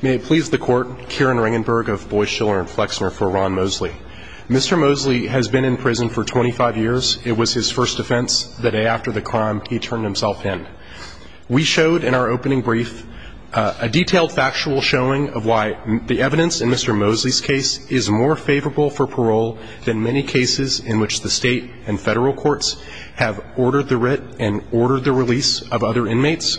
May it please the Court, Kieran Ringenberg of Boy Schiller & Flexner for Ron Mosley. Mr. Mosley has been in prison for 25 years. It was his first defense. The day after the crime, he turned himself in. We showed in our opening brief a detailed factual showing of why the evidence in Mr. Mosley's case is more favorable for parole than many cases in which the state and federal courts have ordered the writ and ordered the release of other inmates.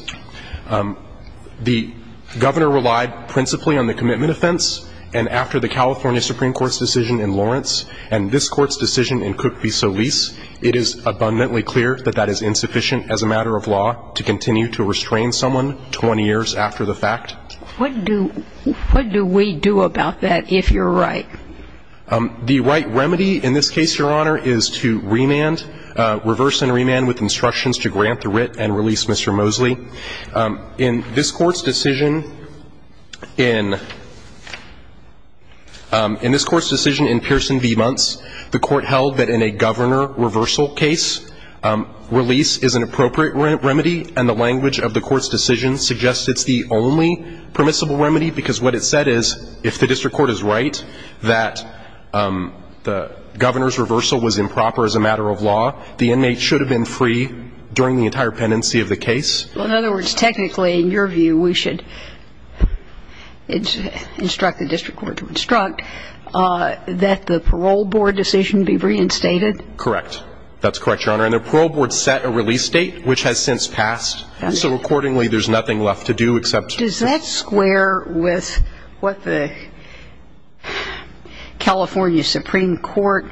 The governor relied principally on the commitment offense, and after the California Supreme Court's decision in Lawrence and this Court's decision in Cook v. Solis, it is abundantly clear that that is insufficient as a matter of law to continue to restrain someone 20 years after the fact. What do we do about that if you're right? The right remedy in this case, Your Honor, is to remand, reverse and remand with instructions to grant the writ and release Mr. Mosley. In this Court's decision in Pearson v. Muntz, the Court held that in a governor reversal case, release is an appropriate remedy, and the language of the Court's decision suggests it's the only permissible remedy because what it said is if the district court is right that the governor's reversal was improper as a matter of law, the inmate should have been free during the entire pendency of the case. Well, in other words, technically, in your view, we should instruct the district court to instruct that the parole board decision be reinstated? Correct. That's correct, Your Honor. And the parole board set a release date, which has since passed. So accordingly, there's nothing left to do except to ---- Does that square with what the California Supreme Court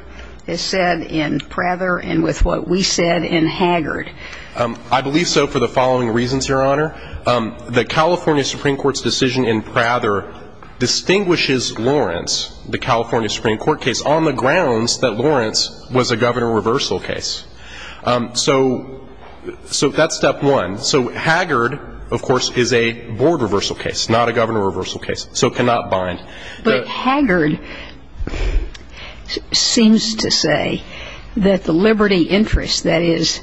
has said in Prather and with what we said in Haggard? I believe so for the following reasons, Your Honor. The California Supreme Court's decision in Prather distinguishes Lawrence, the California Supreme Court case, on the grounds that Lawrence was a governor reversal case. So that's step one. So Haggard, of course, is a board reversal case, not a governor reversal case. So it cannot bind. But Haggard seems to say that the liberty interest that is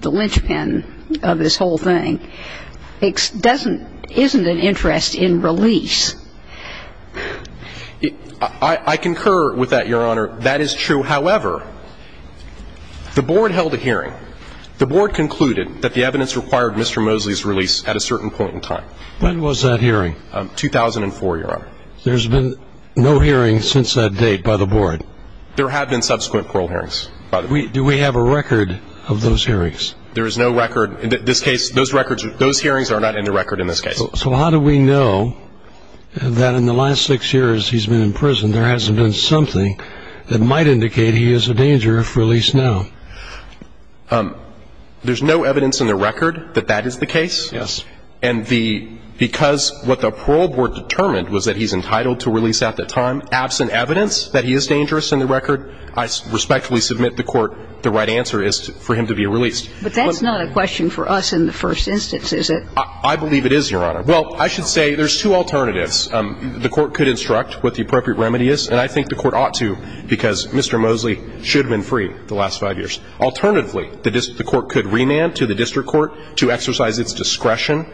the linchpin of this whole thing isn't an interest in release. I concur with that, Your Honor. That is true. However, the board held a hearing. The board concluded that the evidence required Mr. Mosley's release at a certain point in time. When was that hearing? 2004, Your Honor. There's been no hearing since that date by the board? There have been subsequent parole hearings. Do we have a record of those hearings? There is no record. In this case, those hearings are not in the record in this case. So how do we know that in the last six years he's been in prison, there hasn't been something that might indicate he is a danger if released now? There's no evidence in the record that that is the case. Yes. And because what the parole board determined was that he's entitled to release at that time, absent evidence that he is dangerous in the record, I respectfully submit to the Court the right answer is for him to be released. But that's not a question for us in the first instance, is it? I believe it is, Your Honor. Well, I should say there's two alternatives. The Court could instruct what the appropriate remedy is, and I think the Court ought to because Mr. Mosley should have been free the last five years. Alternatively, the Court could remand to the district court to exercise its discretion,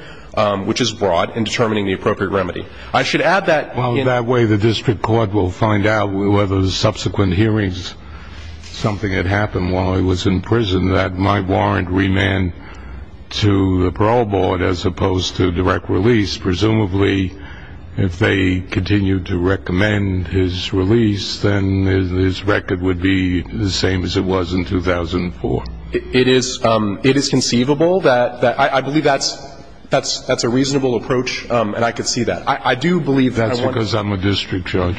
which is broad, in determining the appropriate remedy. I should add that in the Well, that way the district court will find out whether the subsequent hearings, something had happened while he was in prison, that might warrant remand to the parole board as opposed to direct release. Presumably, if they continue to recommend his release, then his record would be the same as it was in 2004. It is conceivable that I believe that's a reasonable approach, and I could see that. I do believe that That's because I'm a district judge.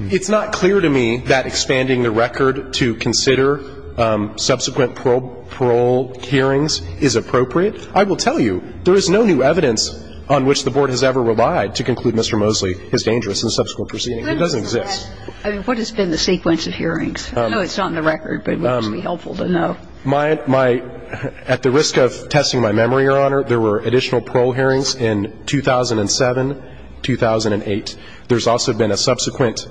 It's not clear to me that expanding the record to consider subsequent parole hearings is appropriate. I will tell you, there is no new evidence on which the board has ever relied to conclude Mr. Mosley is dangerous in subsequent proceedings. It doesn't exist. I mean, what has been the sequence of hearings? I know it's not in the record, but it would just be helpful to know. My at the risk of testing my memory, Your Honor, there were additional parole hearings in 2007, 2008. There's also been a subsequent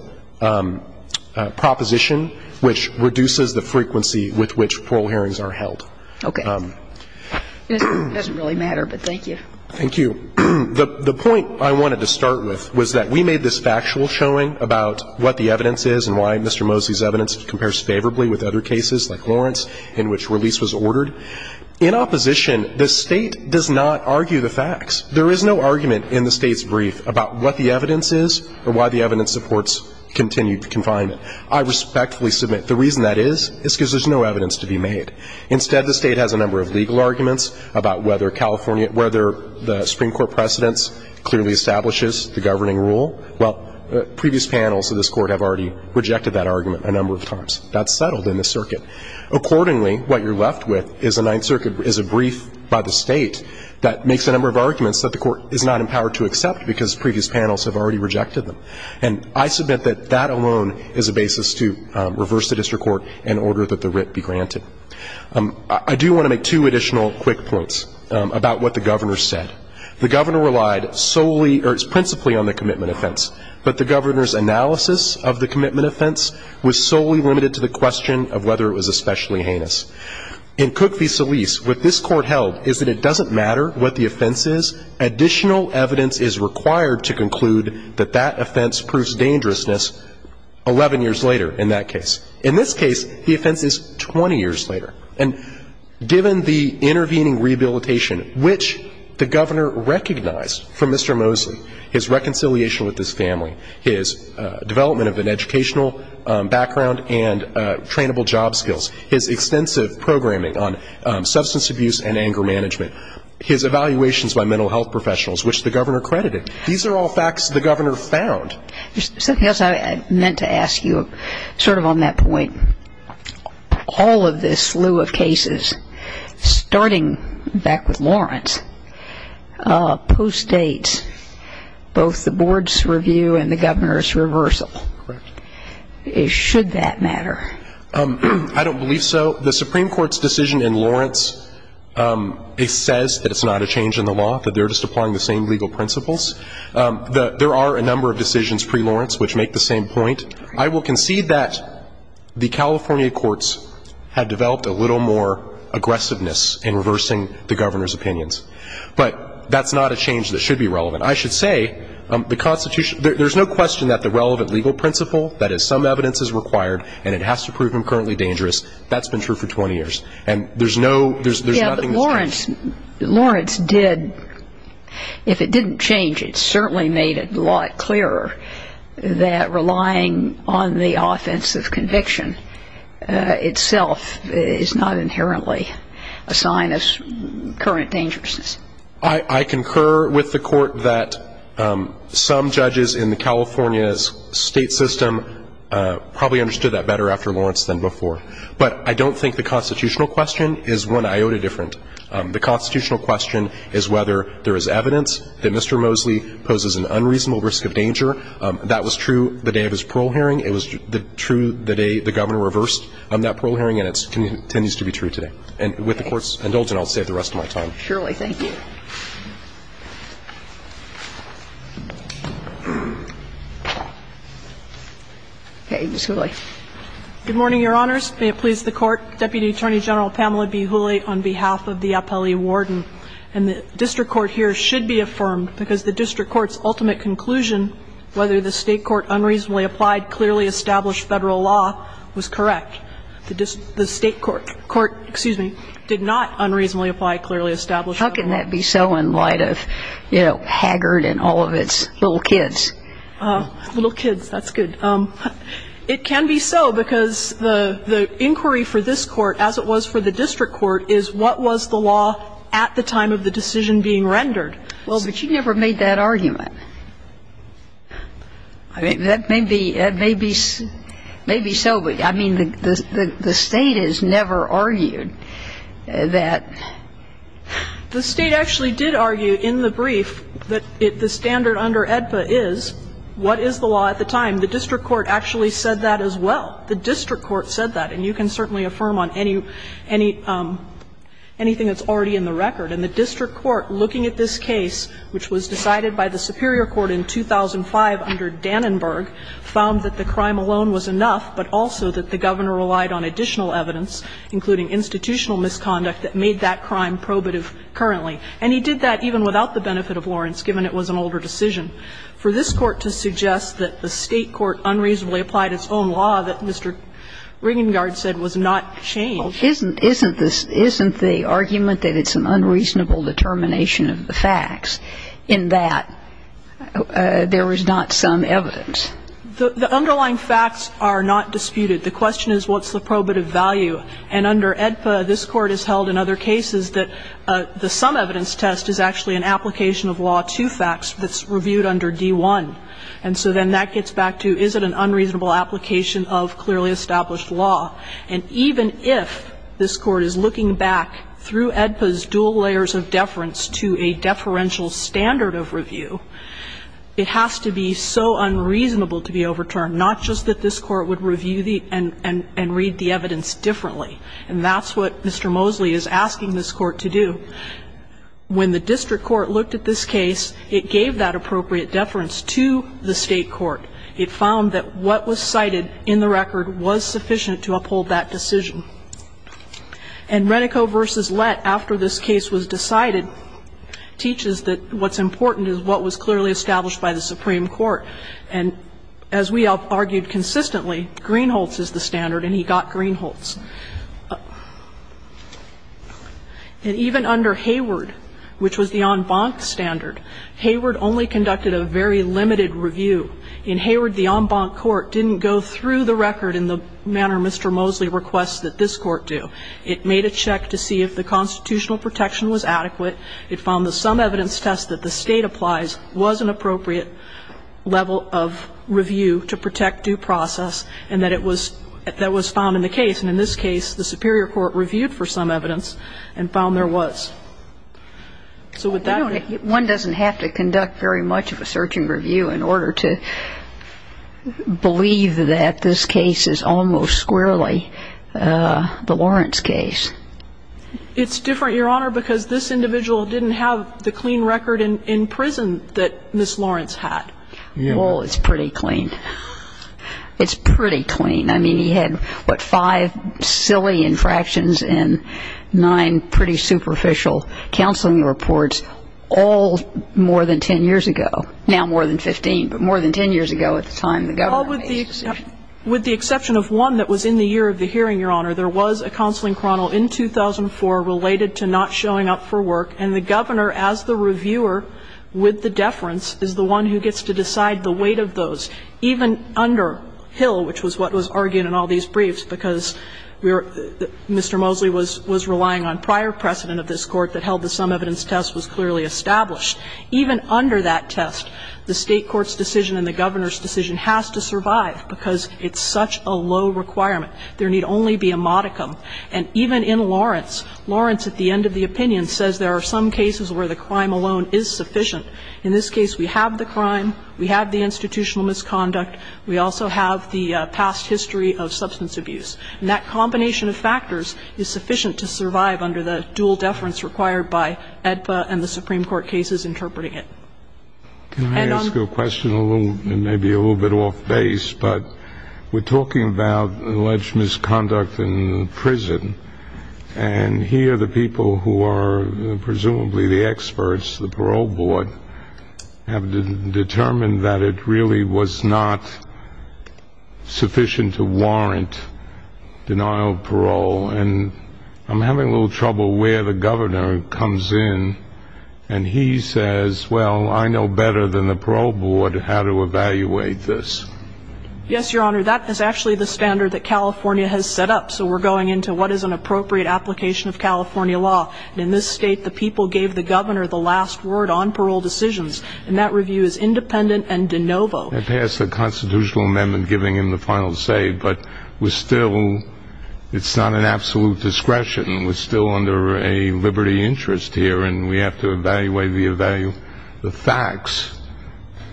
proposition which reduces the frequency with which parole hearings are held. Okay. It doesn't really matter, but thank you. Thank you. The point I wanted to start with was that we made this factual showing about what the evidence is and why Mr. Mosley's evidence compares favorably with other cases like Lawrence in which release was ordered. In opposition, the State does not argue the facts. There is no argument in the State's brief about what the evidence is or why the evidence supports continued confinement. I respectfully submit the reason that is is because there's no evidence to be made. Instead, the State has a number of legal arguments about whether California court precedence clearly establishes the governing rule. Well, previous panels of this court have already rejected that argument a number of times. That's settled in the circuit. Accordingly, what you're left with is a Ninth Circuit is a brief by the State that makes a number of arguments that the court is not empowered to accept because previous panels have already rejected them. And I submit that that alone is a basis to reverse the district court in order that the writ be granted. I do want to make two additional quick points about what the governor said. The governor relied solely or principally on the commitment offense. But the governor's analysis of the commitment offense was solely limited to the question of whether it was especially heinous. In Cook v. Solis, what this court held is that it doesn't matter what the offense is. Additional evidence is required to conclude that that offense proves dangerousness 11 years later in that case. In this case, the offense is 20 years later. And given the intervening rehabilitation, which the governor recognized from Mr. Mosley, his reconciliation with his family, his development of an educational background and trainable job skills, his extensive programming on substance abuse and anger management, his evaluations by mental health professionals, which the governor credited, these are all facts the governor found. There's something else I meant to ask you sort of on that point. All of this slew of cases, starting back with Lawrence, postdates both the board's review and the governor's reversal. Correct. Should that matter? I don't believe so. The Supreme Court's decision in Lawrence, it says that it's not a change in the law, that they're just applying the same legal principles. There are a number of decisions pre-Lawrence which make the same point. I will concede that the California courts had developed a little more aggressiveness in reversing the governor's opinions. But that's not a change that should be relevant. I should say, the Constitution, there's no question that the relevant legal principle, that is, some evidence is required and it has to prove him currently dangerous, that's been true for 20 years. And there's no, there's nothing that's changed. Lawrence did, if it didn't change, it certainly made it a lot clearer that relying on the offensive conviction itself is not inherently a sign of current dangerousness. I concur with the court that some judges in California's state system probably understood that better after Lawrence than before. But I don't think the constitutional question is one iota different. The constitutional question is whether there is evidence that Mr. Mosley poses an unreasonable risk of danger. That was true the day of his parole hearing. It was true the day the governor reversed that parole hearing, and it continues to be true today. And with the Court's indulgence, I'll save the rest of my time. Surely. Ms. Hooley. Good morning, Your Honors. May it please the Court, Deputy Attorney General Pamela B. Hooley, on behalf of the Appellee Warden. And the district court here should be affirmed because the district court's ultimate conclusion, whether the state court unreasonably applied clearly established federal law, was correct. The state court, excuse me, did not unreasonably apply clearly established federal law. How can that be so in light of, you know, Haggard and all of its little kids? Little kids, that's good. It can be so because the inquiry for this Court, as it was for the district court, is what was the law at the time of the decision being rendered. Well, but you never made that argument. I mean, that may be so, but, I mean, the State has never argued that. The State actually did argue in the brief that the standard under AEDPA is what is the law at the time. And the district court actually said that as well. The district court said that. And you can certainly affirm on anything that's already in the record. And the district court, looking at this case, which was decided by the superior court in 2005 under Dannenberg, found that the crime alone was enough, but also that the Governor relied on additional evidence, including institutional misconduct, that made that crime probative currently. And he did that even without the benefit of Lawrence, given it was an older decision. For this Court to suggest that the State court unreasonably applied its own law that Mr. Riengaard said was not changed. Isn't the argument that it's an unreasonable determination of the facts in that there was not some evidence? The underlying facts are not disputed. The question is what's the probative value. And under AEDPA, this Court has held in other cases that the sum evidence test is actually an application of law to facts that's reviewed under D-1. And so then that gets back to is it an unreasonable application of clearly established law. And even if this Court is looking back through AEDPA's dual layers of deference to a deferential standard of review, it has to be so unreasonable to be overturned, not just that this Court would review the and read the evidence differently. And that's what Mr. Mosley is asking this Court to do. When the district court looked at this case, it gave that appropriate deference to the State court. It found that what was cited in the record was sufficient to uphold that decision. And Renico v. Lett, after this case was decided, teaches that what's important is what was clearly established by the Supreme Court. And as we argued consistently, Greenholz is the standard, and he got Greenholz. And even under Hayward, which was the en banc standard, Hayward only conducted a very limited review. In Hayward, the en banc court didn't go through the record in the manner Mr. Mosley requests that this Court do. It made a check to see if the constitutional protection was adequate. It found the sum evidence test that the State applies was an appropriate level of review to protect due process, and that it was found in the case. And in this case, the Superior Court reviewed for some evidence and found there was. So with that... One doesn't have to conduct very much of a search and review in order to believe that this case is almost squarely the Lawrence case. It's different, Your Honor, because this individual didn't have the clean record in prison that Ms. Lawrence had. Well, it's pretty clean. It's pretty clean. I mean, he had, what, five silly infractions and nine pretty superficial counseling reports, all more than ten years ago. Now more than 15, but more than ten years ago at the time the Governor... Well, with the exception of one that was in the year of the hearing, Your Honor, there was a counseling chronicle in 2004 related to not showing up for work, and the Governor, as the reviewer with the deference, is the one who gets to decide the weight of those. Now, in this case, even under Hill, which was what was argued in all these briefs because Mr. Mosley was relying on prior precedent of this Court that held the sum evidence test was clearly established, even under that test, the State court's decision and the Governor's decision has to survive because it's such a low requirement. There need only be a modicum. And even in Lawrence, Lawrence at the end of the opinion says there are some cases where the crime alone is sufficient. In this case, we have the crime. We have the institutional misconduct. We also have the past history of substance abuse. And that combination of factors is sufficient to survive under the dual deference required by AEDPA and the Supreme Court cases interpreting it. And on... Can I ask you a question? It may be a little bit off base, but we're talking about alleged misconduct in prison, and here the people who are presumably the experts, the parole board, have determined that it really was not sufficient to warrant denial of parole. And I'm having a little trouble where the Governor comes in, and he says, well, I know better than the parole board how to evaluate this. Yes, Your Honor, that is actually the standard that California has set up. So we're going into what is an appropriate application of California law. In this state, the people gave the Governor the last word on parole decisions, and that review is independent and de novo. They passed a constitutional amendment giving him the final say, but we're still, it's not an absolute discretion. We're still under a liberty interest here, and we have to evaluate the facts,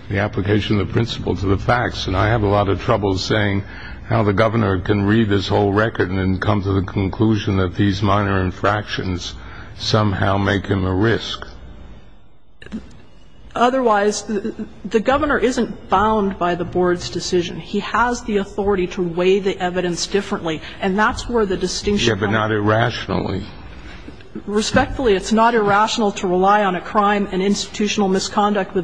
the application of the principle to the facts. And I have a lot of trouble saying how the Governor can read this whole record and then come to the conclusion that these minor infractions somehow make him a risk. Otherwise, the Governor isn't bound by the board's decision. He has the authority to weigh the evidence differently, and that's where the distinction comes. Yes, but not irrationally. Respectfully, it's not irrational to rely on a crime and institutional misconduct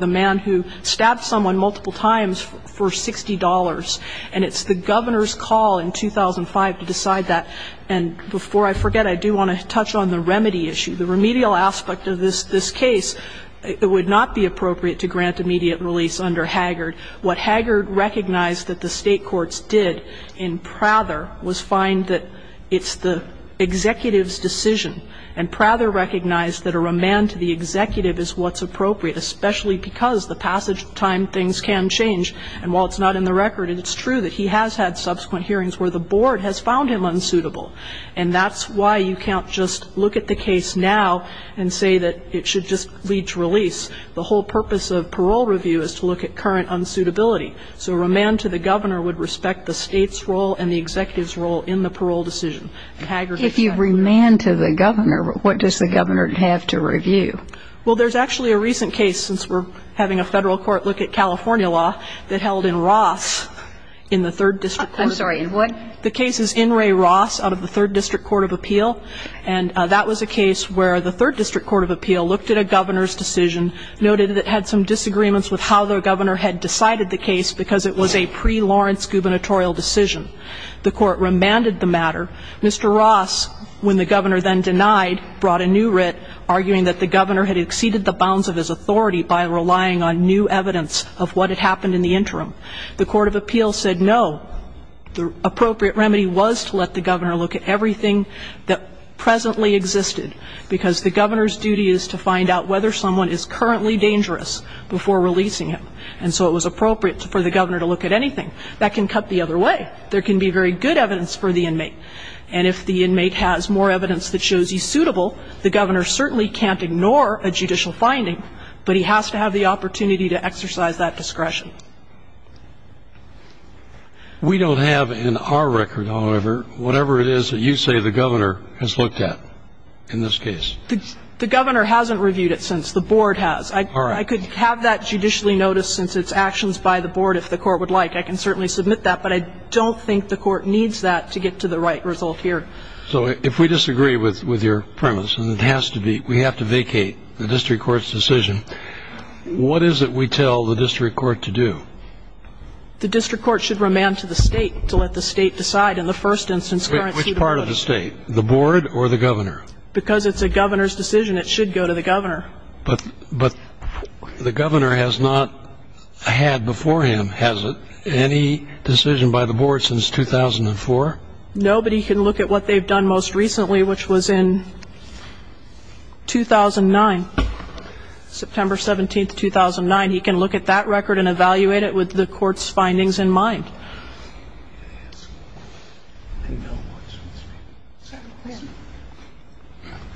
stab someone multiple times for $60. And it's the Governor's call in 2005 to decide that. And before I forget, I do want to touch on the remedy issue. The remedial aspect of this case, it would not be appropriate to grant immediate release under Haggard. What Haggard recognized that the state courts did in Prather was find that it's the executive's decision, and Prather recognized that a remand to the executive is what's appropriate, especially because the passage time things can change. And while it's not in the record, it's true that he has had subsequent hearings where the board has found him unsuitable. And that's why you can't just look at the case now and say that it should just lead to release. The whole purpose of parole review is to look at current unsuitability. So a remand to the Governor would respect the state's role and the executive's role in the parole decision. If you remand to the Governor, what does the Governor have to review? Well, there's actually a recent case, since we're having a Federal court look at California law, that held in Ross in the Third District Court. I'm sorry, in what? The case is In re Ross out of the Third District Court of Appeal. And that was a case where the Third District Court of Appeal looked at a Governor's decision, noted that it had some disagreements with how the Governor had decided the case because it was a pre-Lawrence gubernatorial decision. The Court remanded the matter. Mr. Ross, when the Governor then denied, brought a new writ, arguing that the Governor had exceeded the bounds of his authority by relying on new evidence of what had happened in the interim, the Court of Appeal said no, the appropriate remedy was to let the Governor look at everything that presently existed, because the Governor's duty is to find out whether someone is currently dangerous before releasing him. And so it was appropriate for the Governor to look at anything. That can cut the other way. There can be very good evidence for the inmate. And if the inmate has more evidence that shows he's suitable, the Governor certainly can't ignore a judicial finding, but he has to have the opportunity to exercise that discretion. We don't have in our record, however, whatever it is that you say the Governor has looked at in this case. The Governor hasn't reviewed it since. The Board has. All right. I could have that judicially noticed since it's actions by the Board if the Court would like. I can certainly submit that, but I don't think the Court needs that to get to the right result here. So if we disagree with your premise, and it has to be, we have to vacate the district court's decision, what is it we tell the district court to do? The district court should remand to the State to let the State decide in the first instance. Which part of the State, the Board or the Governor? Because it's a Governor's decision, it should go to the Governor. But the Governor has not had before him, has it? Any decision by the Board since 2004? Nobody can look at what they've done most recently, which was in 2009, September 17th, 2009. He can look at that record and evaluate it with the Court's findings in mind.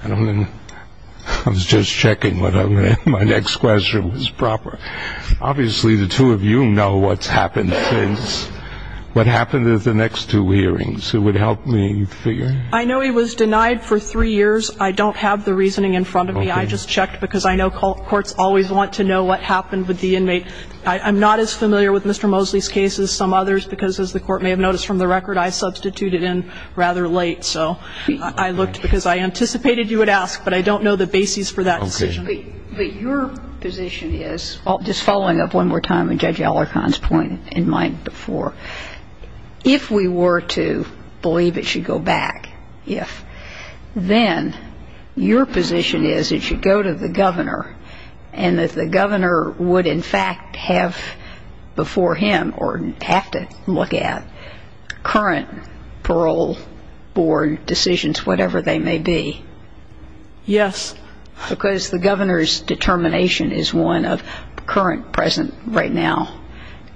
I was just checking whether my next question was proper. Obviously, the two of you know what's happened since. What happened in the next two hearings? It would help me figure. I know he was denied for three years. I don't have the reasoning in front of me. I just checked because I know courts always want to know what happened with the inmate. I'm not as familiar with Mr. Mosley's case as some others because, as the Court may have noticed from the record, I substituted in rather late. So I looked because I anticipated you would ask, but I don't know the basis for that decision. But your position is, just following up one more time on Judge Alarcon's point in mind before, if we were to believe it should go back, if, then your position is it should go to the Governor and that the Governor would, in fact, have before him or have to look at current parole board decisions, whatever they may be. Yes. Because the Governor's determination is one of current, present, right now,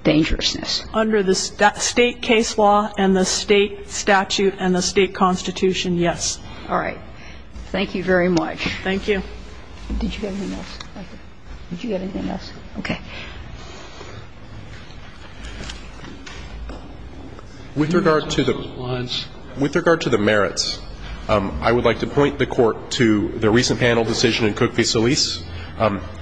dangerousness. Under the state case law and the state statute and the state constitution, yes. All right. Thank you very much. Thank you. Did you have anything else? Thank you. Did you have anything else? Okay. With regard to the merits, I would like to point the Court to the recent panel decision in Cook v. Solis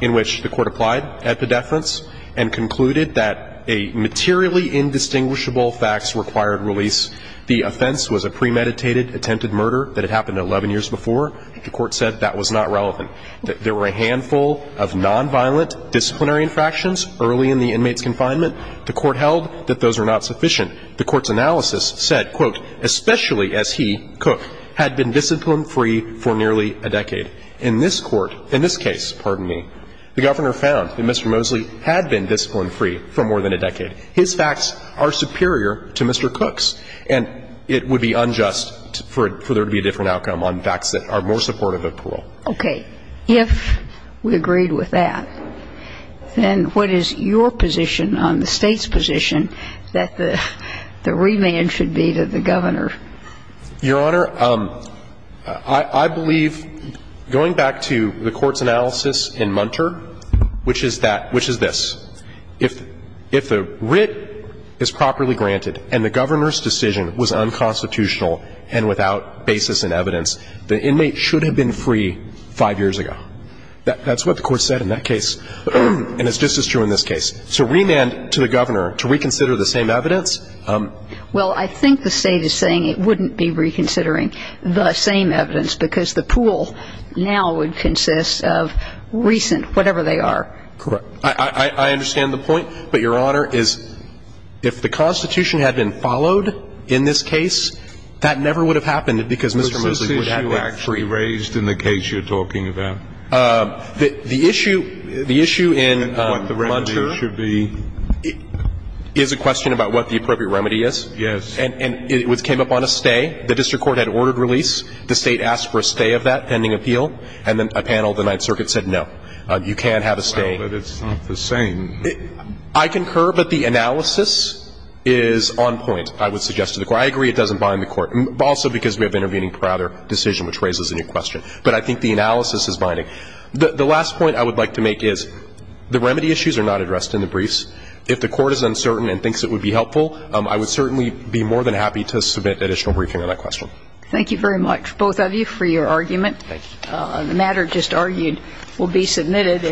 in which the Court applied at pedeference and concluded that a materially indistinguishable facts required release. The offense was a premeditated attempted murder that had happened 11 years before. The Court said that was not relevant. There were a handful of nonviolent disciplinary infractions. Early in the inmate's confinement, the Court held that those were not sufficient. The Court's analysis said, quote, especially as he, Cook, had been discipline-free for nearly a decade. In this Court, in this case, pardon me, the Governor found that Mr. Mosley had been discipline-free for more than a decade. His facts are superior to Mr. Cook's, and it would be unjust for there to be a different outcome on facts that are more supportive of parole. Okay. If we agreed with that, then what is your position on the State's position that the remand should be to the Governor? Your Honor, I believe, going back to the Court's analysis in Munter, which is that – which is this. If the writ is properly granted and the Governor's decision was unconstitutional and without basis in evidence, the inmate should have been free five years ago. That's what the Court said in that case. And it's just as true in this case. So remand to the Governor to reconsider the same evidence? Well, I think the State is saying it wouldn't be reconsidering the same evidence because the pool now would consist of recent, whatever they are. Correct. I understand the point, but, Your Honor, is if the Constitution had been followed in this case, that never would have happened because Mr. Mosley would have been free. Was this issue actually raised in the case you're talking about? The issue in Munter is a question about what the appropriate remedy is. Yes. And it came up on a stay. The district court had ordered release. The State asked for a stay of that pending appeal, and then a panel of the Ninth Circuit said no, you can't have a stay. Well, but it's not the same. I concur, but the analysis is on point. I would suggest to the Court. I agree it doesn't bind the Court, also because we have intervening prior decision which raises a new question. But I think the analysis is binding. The last point I would like to make is the remedy issues are not addressed in the briefs. If the Court is uncertain and thinks it would be helpful, I would certainly be more than happy to submit additional briefing on that question. Thank you very much, both of you, for your argument. Thank you. The matter just argued will be submitted.